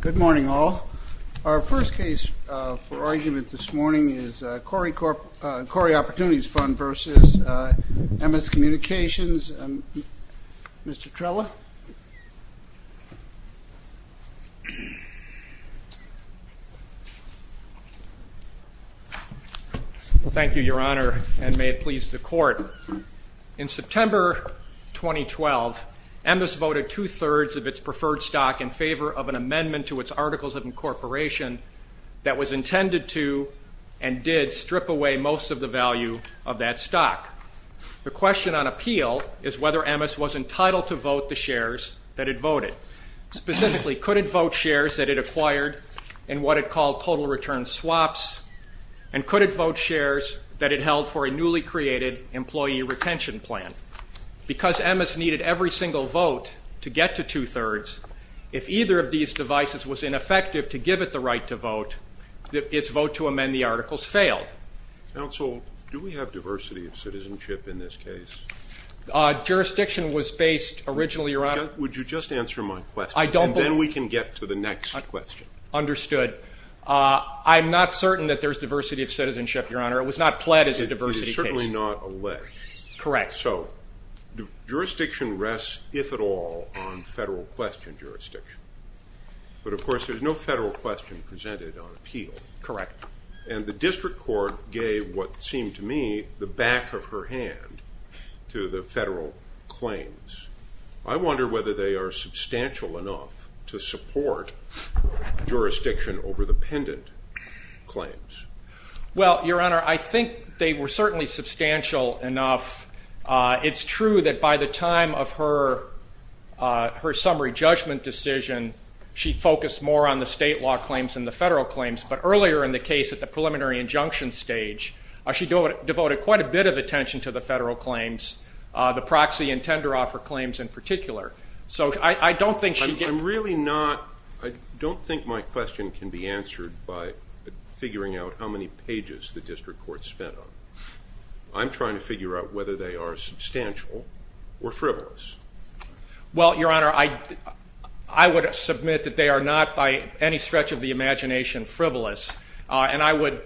Good morning all. Our first case for argument this morning is Corre Opportunities Fund v. Emmis Communications. Mr. Trella. Thank you, Your Honor, and may it please the Court. In September 2012, Emmis voted for two-thirds of its preferred stock in favor of an amendment to its Articles of Incorporation that was intended to and did strip away most of the value of that stock. The question on appeal is whether Emmis was entitled to vote the shares that it voted. Specifically, could it vote shares that it acquired in what it called total return swaps, and could it vote shares that it held for a newly created employee retention plan? Because Emmis needed every single vote to get to two-thirds, if either of these devices was ineffective to give it the right to vote, its vote to amend the Articles failed. Counsel, do we have diversity of citizenship in this case? Jurisdiction was based originally around... Would you just answer my question, and then we can get to the next question. Understood. I'm not certain that there's diversity of citizenship, Your Honor. It was not pled as a diversity case. It is certainly not alleged. Correct. So, jurisdiction rests, if at all, on federal question jurisdiction. But, of course, there's no federal question presented on appeal. Correct. And the District Court gave what seemed to me the back of her hand to the federal claims. I wonder whether they are substantial enough to support jurisdiction over the pendant claims. Well, Your Honor, I think they were certainly substantial enough. It's true that by the time of her summary judgment decision, she focused more on the state law claims than the federal claims. But earlier in the case, at the preliminary injunction stage, she devoted quite a bit of attention to the federal claims, the proxy and tender offer claims in particular. So, I don't think she... I'm really not... I don't think my question can be answered by figuring out how many pages the District Court spent on. I'm trying to figure out whether they are substantial or frivolous. Well, Your Honor, I would submit that they are not, by any stretch of the imagination, frivolous. And I would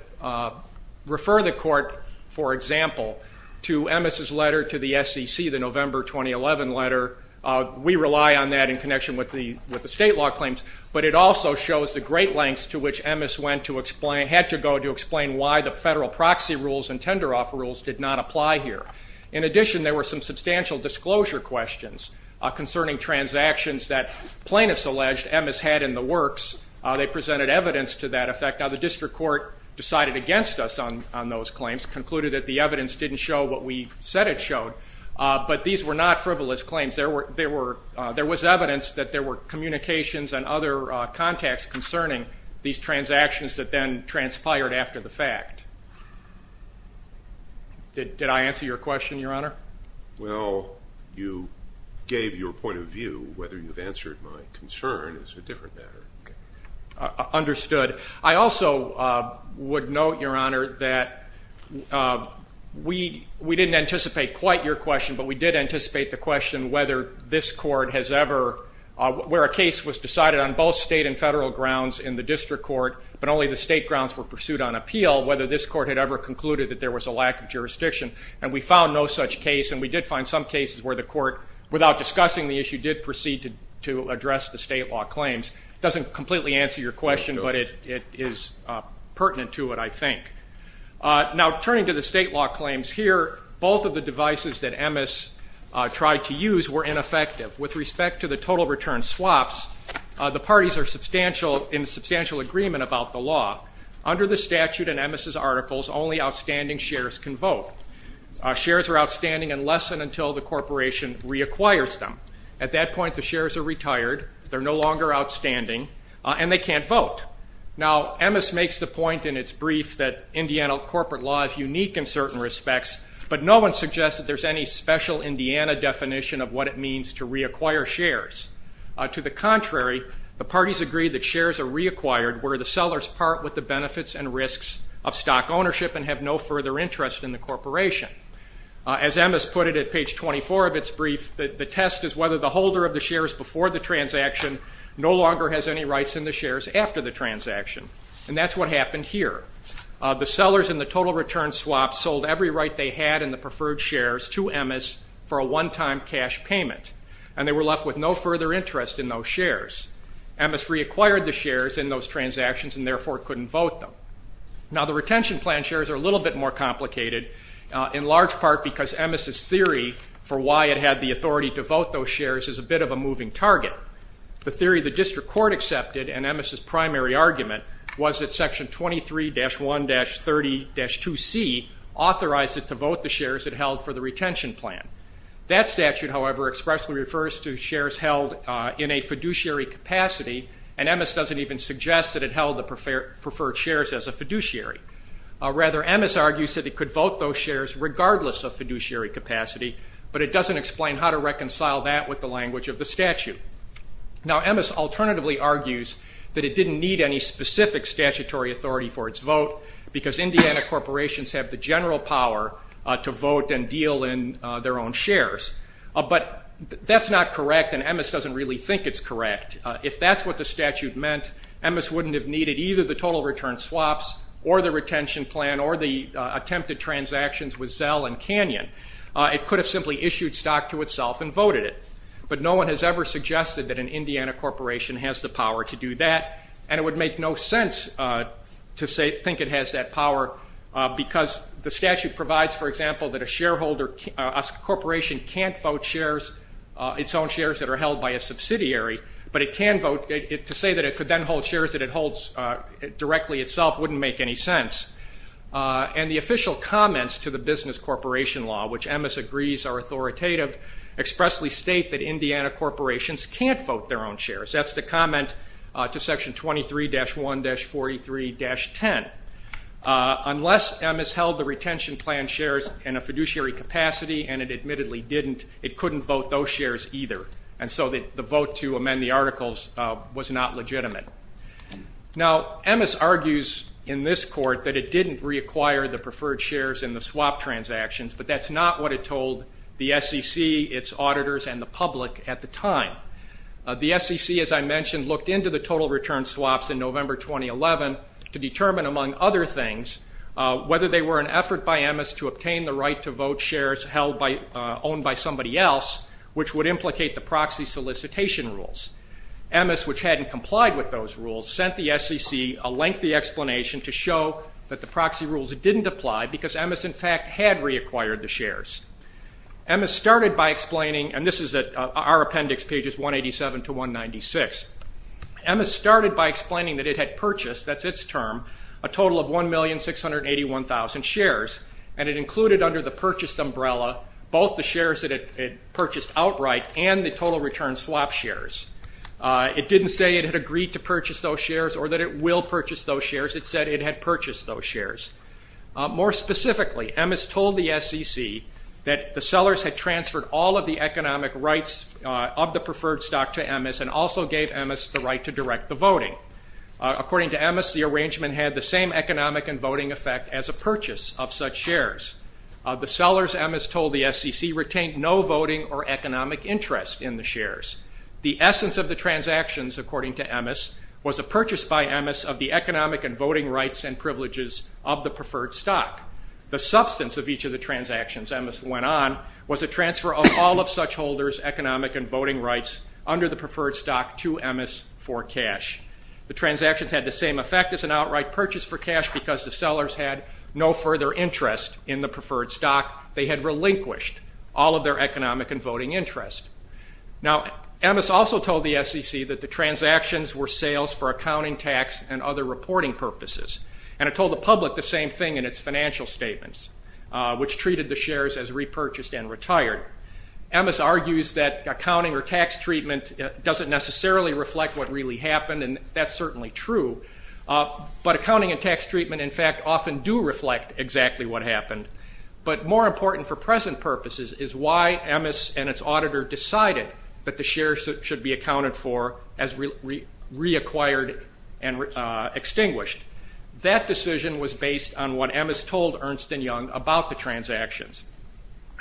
refer the Court, for example, to Emmes' letter to the SEC, the November 2011 letter. We rely on that in connection with the state law claims. But it also shows the great lengths to which Emmes went to explain... had to go to explain why the federal proxy rules and tender offer rules did not apply here. In addition, there were some substantial disclosure questions concerning transactions that plaintiffs alleged Emmes had in the works. They presented evidence to that effect. Now, the District Court decided against us on those claims, concluded that the evidence didn't show what we said it showed. But these were not frivolous evidence that there were communications and other contacts concerning these transactions that then transpired after the fact. Did I answer your question, Your Honor? Well, you gave your point of view. Whether you've answered my concern is a different matter. Understood. I also would note, Your Honor, that we didn't anticipate quite your question, but we did anticipate the question whether this where a case was decided on both state and federal grounds in the District Court, but only the state grounds were pursued on appeal, whether this court had ever concluded that there was a lack of jurisdiction. And we found no such case, and we did find some cases where the court, without discussing the issue, did proceed to address the state law claims. It doesn't completely answer your question, but it is pertinent to it, I think. Now, turning to the state law claims here, both of the devices that Emmes tried to use were ineffective. With respect to the total return swaps, the parties are in substantial agreement about the law. Under the statute in Emmes' articles, only outstanding shares can vote. Shares are outstanding unless and until the corporation reacquires them. At that point, the shares are retired, they're no longer outstanding, and they can't vote. Now, Emmes makes the point in its brief that Indiana corporate law is unique in certain respects, but no one suggests that there's any special Indiana definition of what it means to reacquire shares. To the contrary, the parties agree that shares are reacquired where the sellers part with the benefits and risks of stock ownership and have no further interest in the corporation. As Emmes put it at page 24 of its brief, the test is whether the holder of the shares before the transaction no longer has any rights in the shares after the transaction. And that's what happened here. The sellers in the total return swap sold every right they had in the preferred shares to Emmes for a one-time cash payment, and they were left with no further interest in those shares. Emmes reacquired the shares in those transactions and therefore couldn't vote them. Now, the retention plan shares are a little bit more complicated, in large part because Emmes' theory for why it had the authority to vote those shares is a bit of a moving target. The theory the authorized it to vote the shares it held for the retention plan. That statute, however, expressly refers to shares held in a fiduciary capacity, and Emmes doesn't even suggest that it held the preferred shares as a fiduciary. Rather, Emmes argues that it could vote those shares regardless of fiduciary capacity, but it doesn't explain how to reconcile that with the language of the statute. Now, Emmes alternatively argues that it didn't need any specific statutory authority for its vote because Indiana corporations have the general power to vote and deal in their own shares, but that's not correct, and Emmes doesn't really think it's correct. If that's what the statute meant, Emmes wouldn't have needed either the total return swaps or the retention plan or the attempted transactions with Zell and Canyon. It could have simply issued stock to itself and voted it, but no one has ever suggested that an Indiana corporation has the power to do that, and it would make no sense to say think it has that power because the statute provides, for example, that a shareholder, a corporation can't vote shares, its own shares that are held by a subsidiary, but it can vote it to say that it could then hold shares that it holds directly itself wouldn't make any sense, and the official comments to the business corporation law, which Emmes agrees are authoritative, expressly state that Indiana corporations can't vote their own shares. That's the comment to section 23-1-43-10. Unless Emmes held the retention plan shares in a fiduciary capacity, and it admittedly didn't, it couldn't vote those shares either, and so the vote to amend the articles was not legitimate. Now, Emmes argues in this court that it didn't reacquire the preferred shares in the swap transactions, but that's not what it told the SEC, its auditors, and the public at the time. The SEC, as I mentioned, looked into the total return swaps in November 2011 to determine, among other things, whether they were an effort by Emmes to obtain the right to vote shares held by, owned by somebody else, which would implicate the proxy solicitation rules. Emmes, which hadn't complied with those rules, sent the SEC a lengthy explanation to show that the proxy rules didn't apply because Emmes, in fact, had reacquired the shares. Emmes started by explaining, and this is our appendix, pages 187 to 196, Emmes started by explaining that it had purchased, that's its term, a total of 1,681,000 shares, and it included under the purchased umbrella both the shares that it purchased outright and the total return swap shares. It didn't say it had agreed to purchase those shares or that it will purchase those shares, it said it had purchased those shares. More specifically, Emmes told the SEC that the sellers had transferred all of the economic rights of the preferred stock to Emmes and also gave Emmes the right to direct the voting. According to Emmes, the arrangement had the same economic and voting effect as a purchase of such shares. The sellers, Emmes told the SEC, retained no voting or economic interest in the shares. The essence of the transactions, according to Emmes, was a purchase by Emmes of the economic and voting rights and privileges of the transfer of all of such holders economic and voting rights under the preferred stock to Emmes for cash. The transactions had the same effect as an outright purchase for cash because the sellers had no further interest in the preferred stock. They had relinquished all of their economic and voting interest. Now, Emmes also told the SEC that the transactions were sales for accounting, tax, and other reporting purposes, and it told the public the same thing in its financial statements, which treated the shares as repurchased and retired. Emmes argues that accounting or tax treatment doesn't necessarily reflect what really happened, and that's certainly true, but accounting and tax treatment, in fact, often do reflect exactly what happened. But more important for present purposes is why Emmes and its auditor decided that the shares should be accounted for as transactions.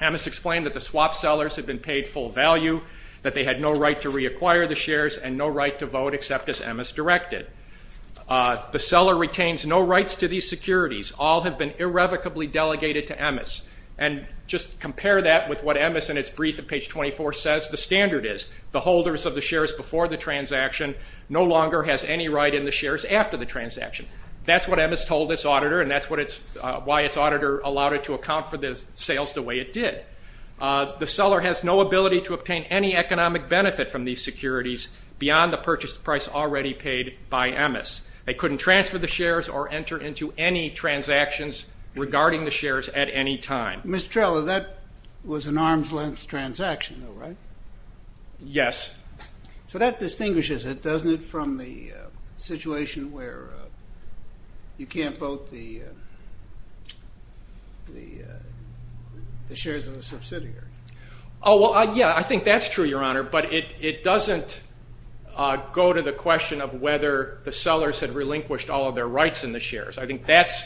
Emmes explained that the swap sellers had been paid full value, that they had no right to reacquire the shares, and no right to vote except as Emmes directed. The seller retains no rights to these securities. All have been irrevocably delegated to Emmes, and just compare that with what Emmes in its brief at page 24 says the standard is. The holders of the shares before the transaction no longer has any right in the shares after the transaction. That's what Emmes told its auditor, and that's why its auditor allowed it to account for the sales the way it did. The seller has no ability to obtain any economic benefit from these securities beyond the purchase price already paid by Emmes. They couldn't transfer the shares or enter into any transactions regarding the shares at any time. Mr. Trella, that was an arm's-length transaction, though, right? Yes. So that distinguishes it, doesn't it, from the You can't vote the shares in the subsidiary. Oh, well, yeah, I think that's true, Your Honor, but it doesn't go to the question of whether the sellers had relinquished all of their rights in the shares. I think that's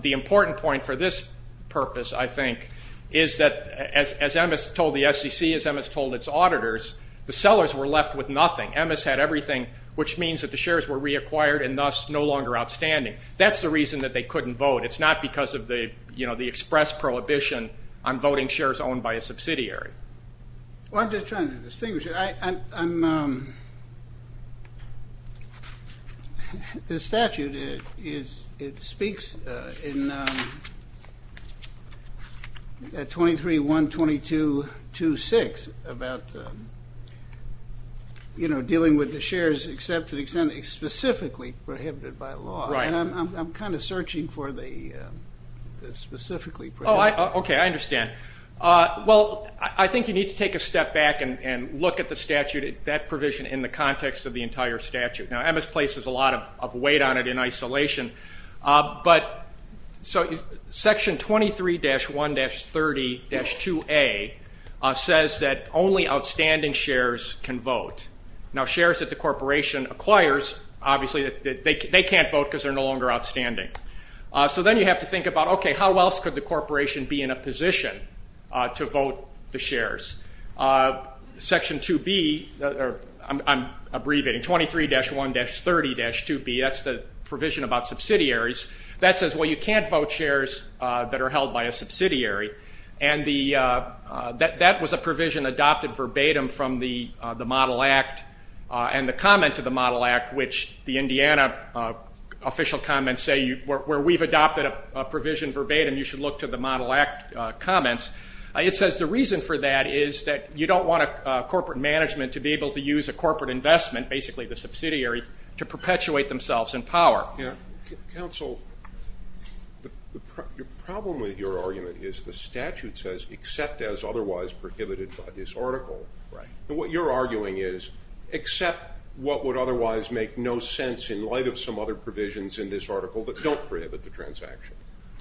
the important point for this purpose, I think, is that, as Emmes told the SEC, as Emmes told its auditors, the sellers were left with nothing. Emmes had everything, which means that the shares were reacquired and thus no longer outstanding. That's the reason that they couldn't vote. It's not because of the, you know, the express prohibition on voting shares owned by a subsidiary. Well, I'm just trying to distinguish. The statute speaks in 23.122.26 about, you know, dealing with the shares except to the extent it's specifically prohibited by law, and I'm kind of searching for the specifically prohibited. Oh, okay, I understand. Well, I think you need to take a step back and look at the statute, that provision, in the context of the entire statute. Now, Emmes places a lot of weight on it in isolation, but so Section 23-1-30-2A says that only outstanding shares can vote. Now, shares that the corporation acquires, obviously they can't vote because they're no longer outstanding. So then you have to think about, okay, how else could the corporation be in a position to vote the shares? Section 2B, I'm abbreviating, 23-1-30-2B, that's the provision about subsidiaries, that says, well, you can't vote shares that are held by a subsidiary, and that was a provision adopted verbatim from the Model Act and the comment to the Model Act, which the Indiana official comments say, where we've adopted a provision verbatim, you should look to the Model Act comments. It says the reason for that is that you don't want a corporate management to be able to use a corporate investment, basically the subsidiary, to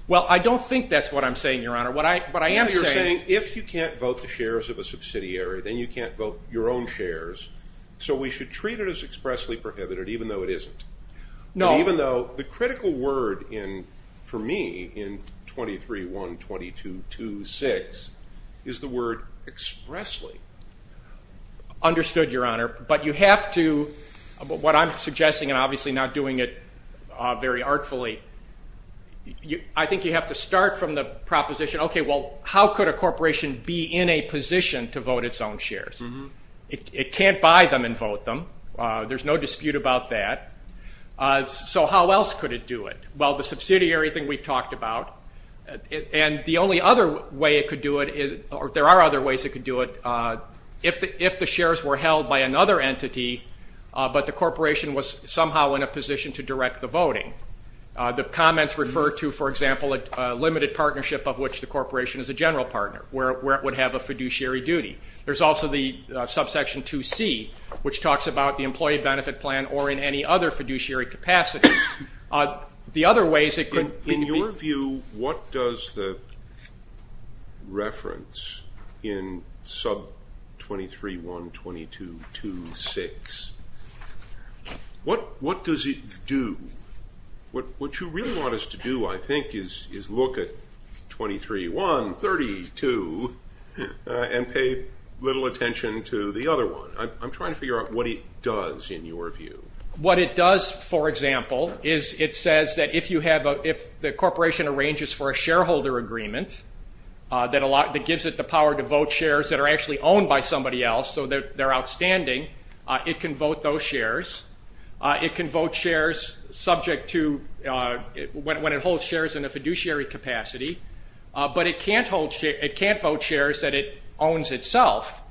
Well, I don't think that's what I'm saying, Your Honor. What I am saying is, if you can't vote the shares of a subsidiary, then you can't vote your own shares, so we should treat it as expressly prohibited, even though it isn't. No. Even though the critical word in, for me, in 23-1-22-2-6 is the word expressly. Understood, Your Honor, but you have to, what I'm suggesting, and obviously not doing it very artfully, I think you have to start from the proposition, okay, well, how could a corporation be in a position to vote its own shares? It can't buy them and vote them. There's no dispute about that. So how else could it do it? Well, the subsidiary thing we've talked about, and the only other way it could do it is, or there are other ways it could do it, if the shares were held by another entity, but the corporation was somehow in a position to direct the voting. The comments refer to, for example, a limited partnership of which the corporation is a general partner, where it would have a fiduciary duty. There's also the which talks about the employee benefit plan or in any other fiduciary capacity. The other ways it could, in your view, what does the reference in sub 23-1-22-2-6, what does it do? What you really want us to do, I think, is look at 23-1-32 and pay little attention to the other one. I'm trying to figure out what it does in your view. What it does, for example, is it says that if you have, if the corporation arranges for a shareholder agreement that gives it the power to vote shares that are actually owned by somebody else, so they're outstanding, it can vote those shares. It can vote shares subject to, when it holds shares in a fiduciary capacity, but it can't vote shares that it owns itself,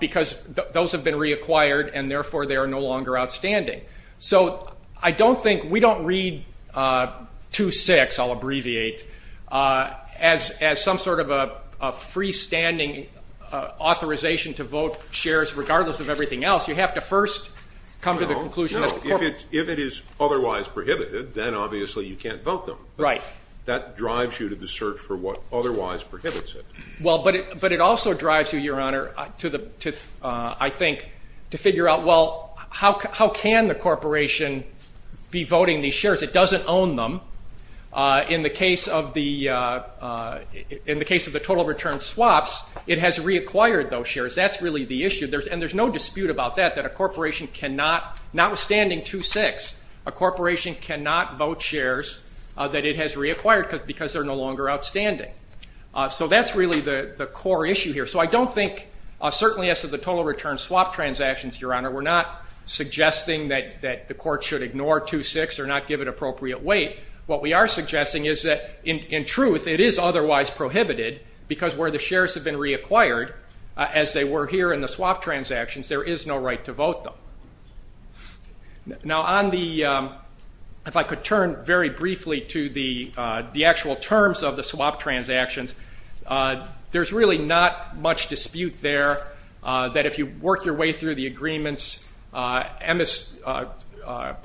because those have been reacquired and therefore they are no longer outstanding. So I don't think, we don't read 2-6, I'll abbreviate, as some sort of a freestanding authorization to vote shares regardless of everything else. You have to first come to the conclusion. If it is otherwise prohibited, then obviously you can't vote them. Right. That drives you to the search for what otherwise prohibits it. Well, but it also drives you, your honor, to the, I think, to figure out, well, how can the corporation be voting these shares? It doesn't own them. In the case of the, in the case of the total return swaps, it has reacquired those shares. That's really the issue. There's, and there's no dispute about that, that a corporation cannot, notwithstanding 2-6, a corporation cannot vote shares that it has reacquired because they're no longer outstanding. So that's really the core issue here. So I don't think, certainly as to the total return swap transactions, your honor, we're not suggesting that the court should ignore 2-6 or not give it appropriate weight. What we are suggesting is that, in truth, it is otherwise prohibited, because where the shares have been reacquired, as they were here in the swap transactions, there is no right to vote them. Now on the, if I could turn very briefly to the, the actual terms of the swap transactions, there's really not much dispute there, that if you work your way through the agreements, Emmes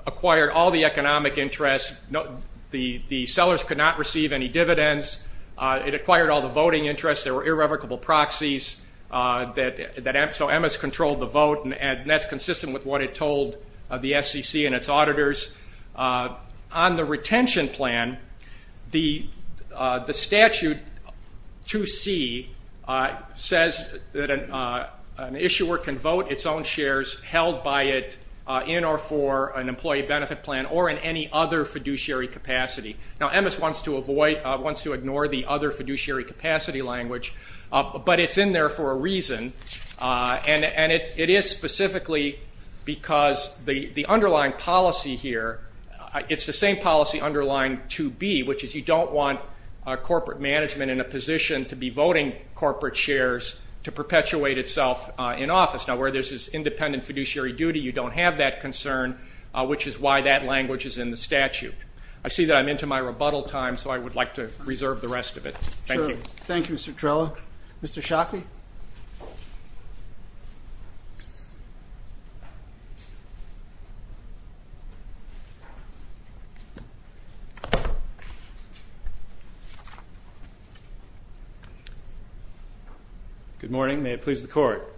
acquired all the economic interests, no, the, the sellers could not receive any dividends, it acquired all the voting interests, there were irrevocable proxies, that, that, so Emmes controlled the vote and that's consistent with what it told the SEC and its auditors. On the retention plan, the, the statute 2C says that an, an issuer can vote its own shares held by it in or for an employee benefit plan or in any other fiduciary capacity. Now Emmes wants to avoid, wants to ignore the other fiduciary capacity language. But it's in there for a reason. And, and it, it is specifically because the, the underlying policy here, it's the same policy underlying 2B, which is you don't want corporate management in a position to be voting corporate shares to perpetuate itself in office. Now where there's this independent fiduciary duty, you don't have that concern, which is why that language is in the statute. I see that I'm into my rebuttal time, so I would like to reserve the rest of it. Thank you. Thank you, Mr. Trello. Mr. Shockley? Good morning. May it please the court.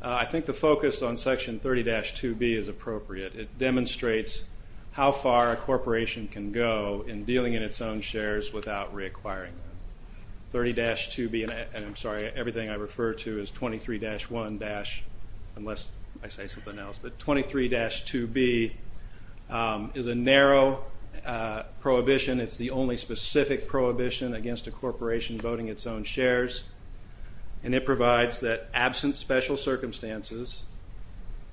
I think the focus on section 30-2B is appropriate. It demonstrates how far a corporation can go in dealing in its own shares. 30-2B, and I'm sorry, everything I refer to is 23-1-unless I say something else. But 23-2B is a narrow prohibition. It's the only specific prohibition against a corporation voting its own shares. And it provides that absent special circumstances,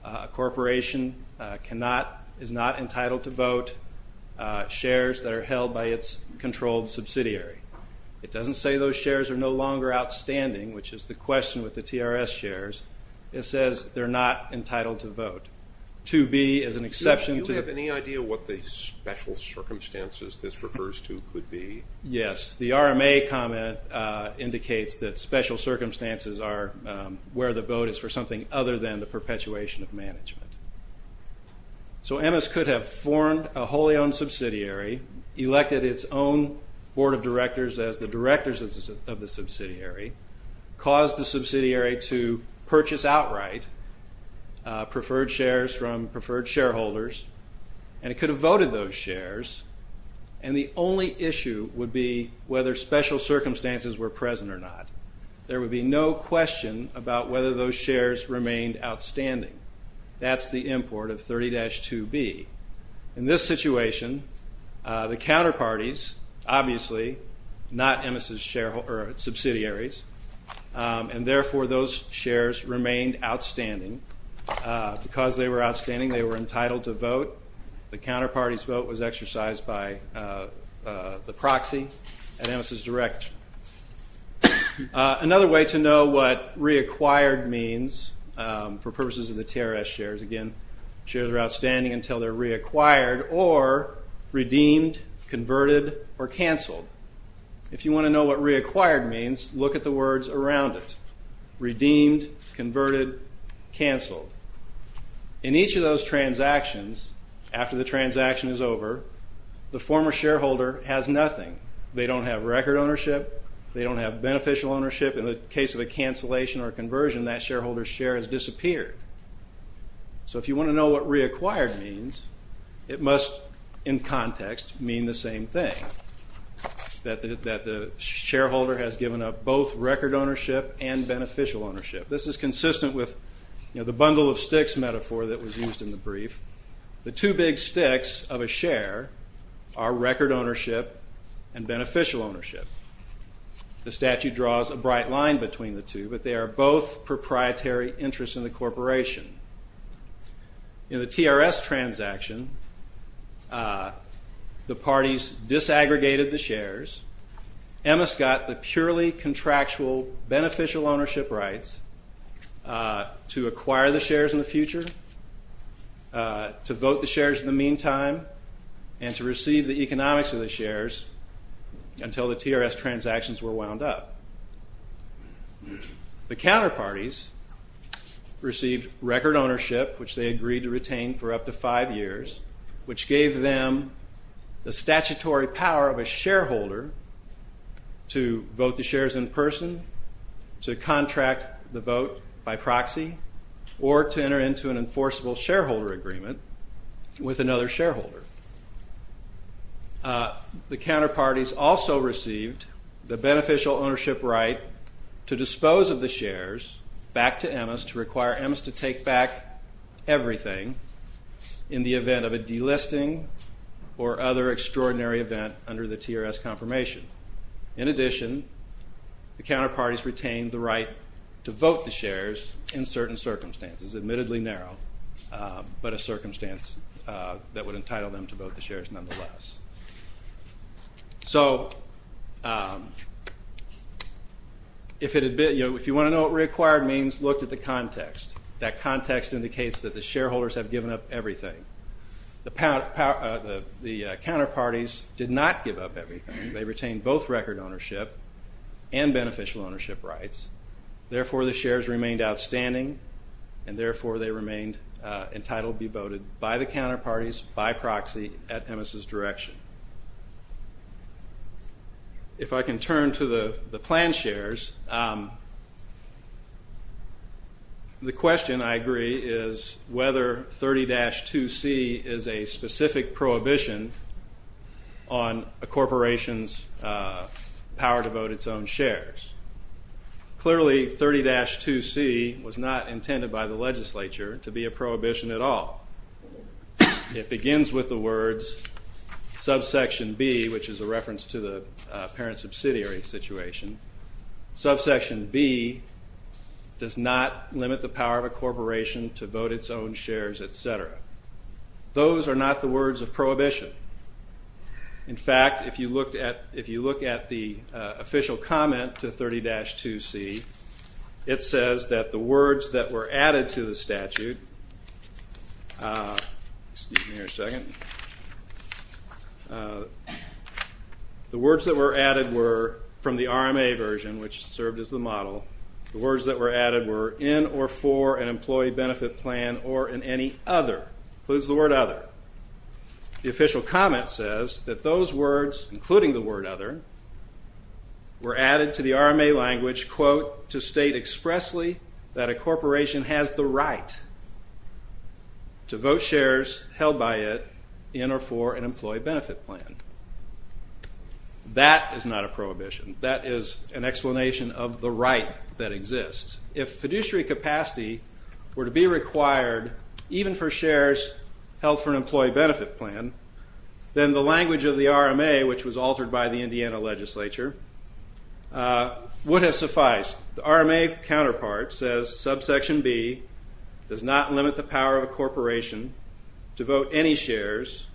a corporation cannot, is not entitled to vote shares that are held by its controlled subsidiary. It doesn't say those shares are no longer outstanding, which is the question with the TRS shares. It says they're not entitled to vote. 2B is an exception. Do you have any idea what the special circumstances this refers to could be? Yes, the RMA comment indicates that special circumstances are where the vote is for something other than the subsidiary. It could have elected its own board of directors as the directors of the subsidiary, caused the subsidiary to purchase outright preferred shares from preferred shareholders, and it could have voted those shares, and the only issue would be whether special circumstances were present or not. There would be no question about whether those shares remained outstanding. That's the import of the counterparties, obviously, not EMIS's subsidiaries, and therefore those shares remained outstanding. Because they were outstanding, they were entitled to vote. The counterparty's vote was exercised by the proxy at EMIS's direct. Another way to know what reacquired means, for purposes of the TRS shares, again, shares are outstanding until they're reacquired or redeemed, converted, or canceled. If you want to know what reacquired means, look at the words around it. Redeemed, converted, canceled. In each of those transactions, after the transaction is over, the former shareholder has nothing. They don't have record ownership. They don't have beneficial ownership. In the case of a So if you want to know what reacquired means, it must, in context, mean the same thing. That the shareholder has given up both record ownership and beneficial ownership. This is consistent with the bundle of sticks metaphor that was used in the brief. The two big sticks of a share are record ownership and beneficial ownership. The statute draws a bright line between the two, but they are both proprietary interests in the corporation. In the TRS transaction, the parties disaggregated the shares. EMIS got the purely contractual beneficial ownership rights to acquire the shares in the future, to vote the shares in the meantime, and to receive the economics of the shares until the TRS transactions were wound up. The counter parties received record ownership, which they agreed to retain for up to five years, which gave them the statutory power of a shareholder to vote the shares in person, to contract the vote by proxy, or to enter into an enforceable shareholder agreement with another shareholder. The counter parties also received the beneficial ownership right to dispose of the shares back to EMIS to require EMIS to take back everything in the event of a delisting or other extraordinary event under the TRS confirmation. In addition, the counter parties retained the right to vote the shares, but entitled them to vote the shares nonetheless. So if you want to know what reacquired means, look at the context. That context indicates that the shareholders have given up everything. The counter parties did not give up everything. They retained both record ownership and beneficial ownership rights. Therefore, the shares remained outstanding, and therefore they remained entitled to be voted by the counter parties, by proxy, at EMIS's direction. If I can turn to the plan shares, the question, I agree, is whether 30-2c is a specific prohibition on a corporation's power to vote its own shares. Clearly, 30-2c was not intended by the legislature to be a prohibition at all. It begins with the words, subsection B, which is a reference to the parent subsidiary situation. Subsection B does not limit the power of a corporation to vote its own shares, etc. Those are not the words of prohibition. In fact, if you look at the official comment to 30-2c, it says that the words that were added to the statute, the words that were added were from the RMA version, which served as the model, the words that were added were in or for an employee benefit plan or in any other, includes the word other. The official comment says that those words, including the word other, were added to the RMA language, quote, to state expressly that a corporation has the right to vote shares held by it in or for an employee benefit plan. That is not a prohibition. That is an explanation of the right that exists. If fiduciary capacity were to be required even for shares held for an employee benefit plan, then the language of the RMA, which was altered by the Indiana legislature, would have sufficed. The RMA counterpart says subsection B does not limit the power of a corporation to vote any shares,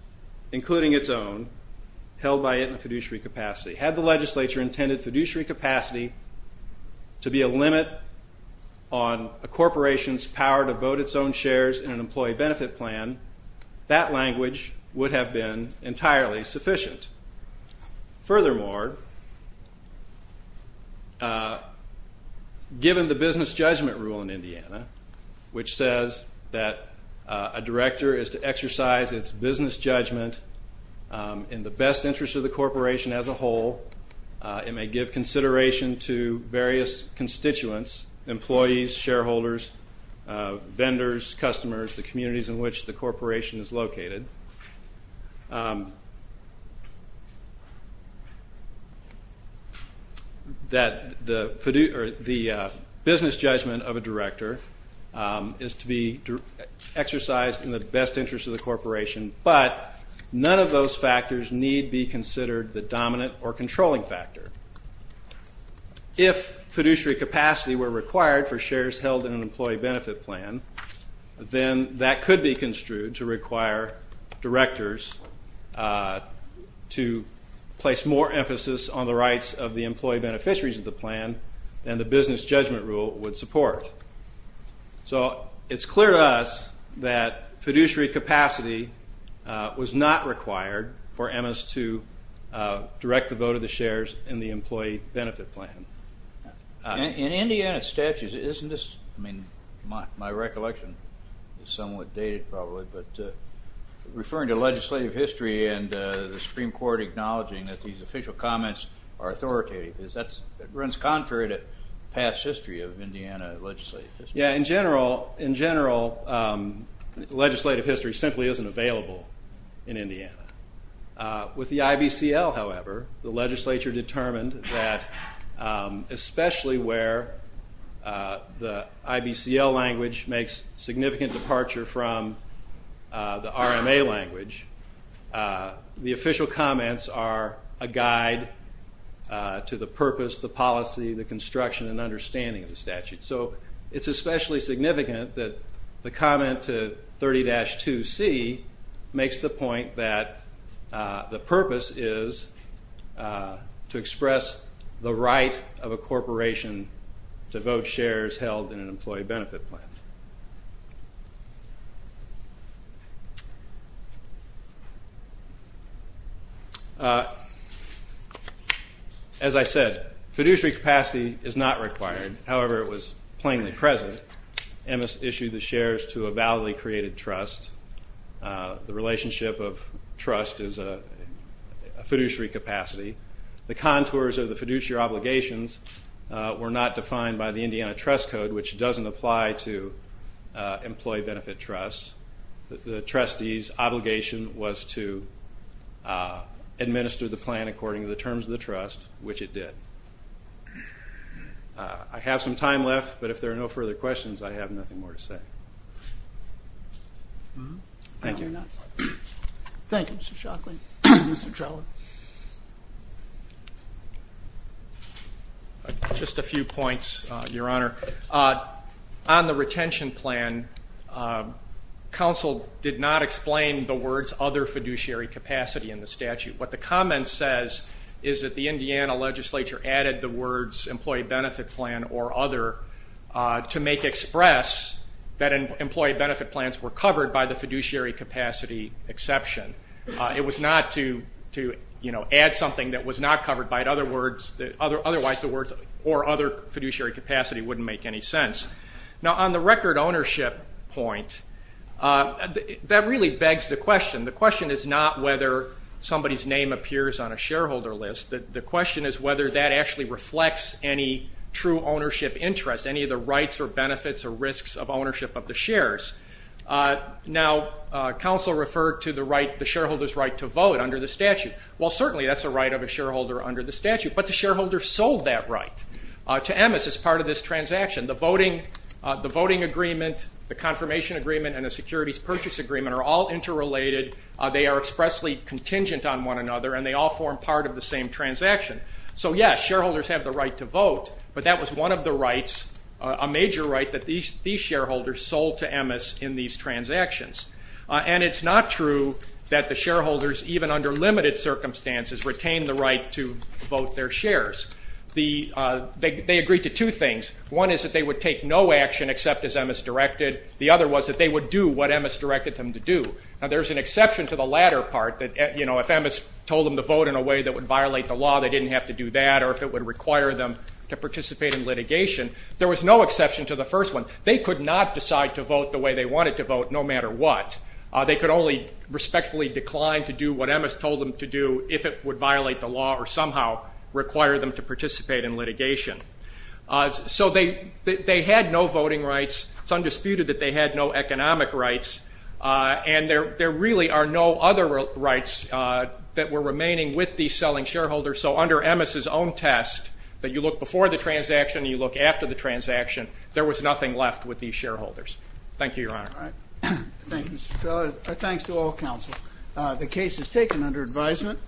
including its own, held by it in fiduciary capacity. Had the legislature intended fiduciary capacity to be a limit on a corporation's power to vote its own shares in an employee benefit plan, that language would have been entirely sufficient. Furthermore, given the business judgment rule in Indiana, which says that a director is to exercise its business judgment in the best interest of the corporation as a whole, it may give consideration to vendors, customers, the communities in which the corporation is located, that the business judgment of a director is to be exercised in the best interest of the corporation, but none of those factors need be considered the dominant or controlling factor. If fiduciary capacity were required for shares held in an employee benefit plan, then that could be construed to require directors to place more emphasis on the rights of the employee beneficiaries of the plan than the business judgment rule would support. So it's clear to us that fiduciary capacity was not required for EMS to direct the vote of the shares in the employee benefit plan. In Indiana statutes, isn't this, I mean, my recollection is somewhat dated probably, but referring to legislative history and the Supreme Court acknowledging that these official comments are authoritative, is that, it runs contrary to past history of Indiana legislative history. Yeah, in general, legislative history simply isn't available in that especially where the IBCL language makes significant departure from the RMA language, the official comments are a guide to the purpose, the policy, the construction, and understanding of the statute. So it's especially significant that the comment to 30-2C makes the point that the purpose is to express the right of a corporation to vote shares held in an employee benefit plan. As I said, fiduciary capacity is not required. However, it was plainly present. EMS issued the shares to a validly created trust. The relationship of trust is a fiduciary capacity. The contours of the fiduciary obligations were not employee benefit trust. The trustee's obligation was to administer the plan according to the terms of the trust, which it did. I have some time left, but if there are no further questions, I have nothing more to say. Thank you, Mr. Shockley. Just a few points, Your Honor. On the retention plan, counsel did not explain the words other fiduciary capacity in the statute. What the comment says is that the Indiana legislature added the words employee benefit plan or other to make express that employee benefit plans were covered by the It was not to add something that was not covered by other words or other fiduciary capacity wouldn't make any sense. On the record ownership point, that really begs the question. The question is not whether somebody's name appears on a shareholder list. The question is whether that actually reflects any true ownership interest, any of the rights or benefits or risks of ownership of the shares. Now, counsel referred to the right, the shareholder's right to vote under the statute. Well, certainly that's a right of a shareholder under the statute, but the shareholder sold that right to Emmes as part of this transaction. The voting agreement, the confirmation agreement, and the securities purchase agreement are all interrelated. They are expressly contingent on one another, and they all form part of the same transaction. So, yes, shareholders have the right to vote, but that was one of the rights, a major right, that these shareholders sold to Emmes in these transactions. And it's not true that the shareholders, even under limited circumstances, retain the right to vote their shares. They agreed to two things. One is that they would take no action except as Emmes directed. The other was that they would do what Emmes directed them to do. Now, there's an exception to the latter part that, you know, if Emmes told them to vote in a way that would violate the law, they didn't have to do that, or if it would require them to participate in the first one, they could not decide to vote the way they wanted to vote, no matter what. They could only respectfully decline to do what Emmes told them to do if it would violate the law or somehow require them to participate in litigation. So they had no voting rights. It's undisputed that they had no economic rights, and there really are no other rights that were remaining with these selling shareholders. So under Emmes's own test, that you look before the transaction, you look after the transaction, there was nothing left with these shareholders. Thank you, Your Honor. Thanks to all counsel. The case is taken under advisement.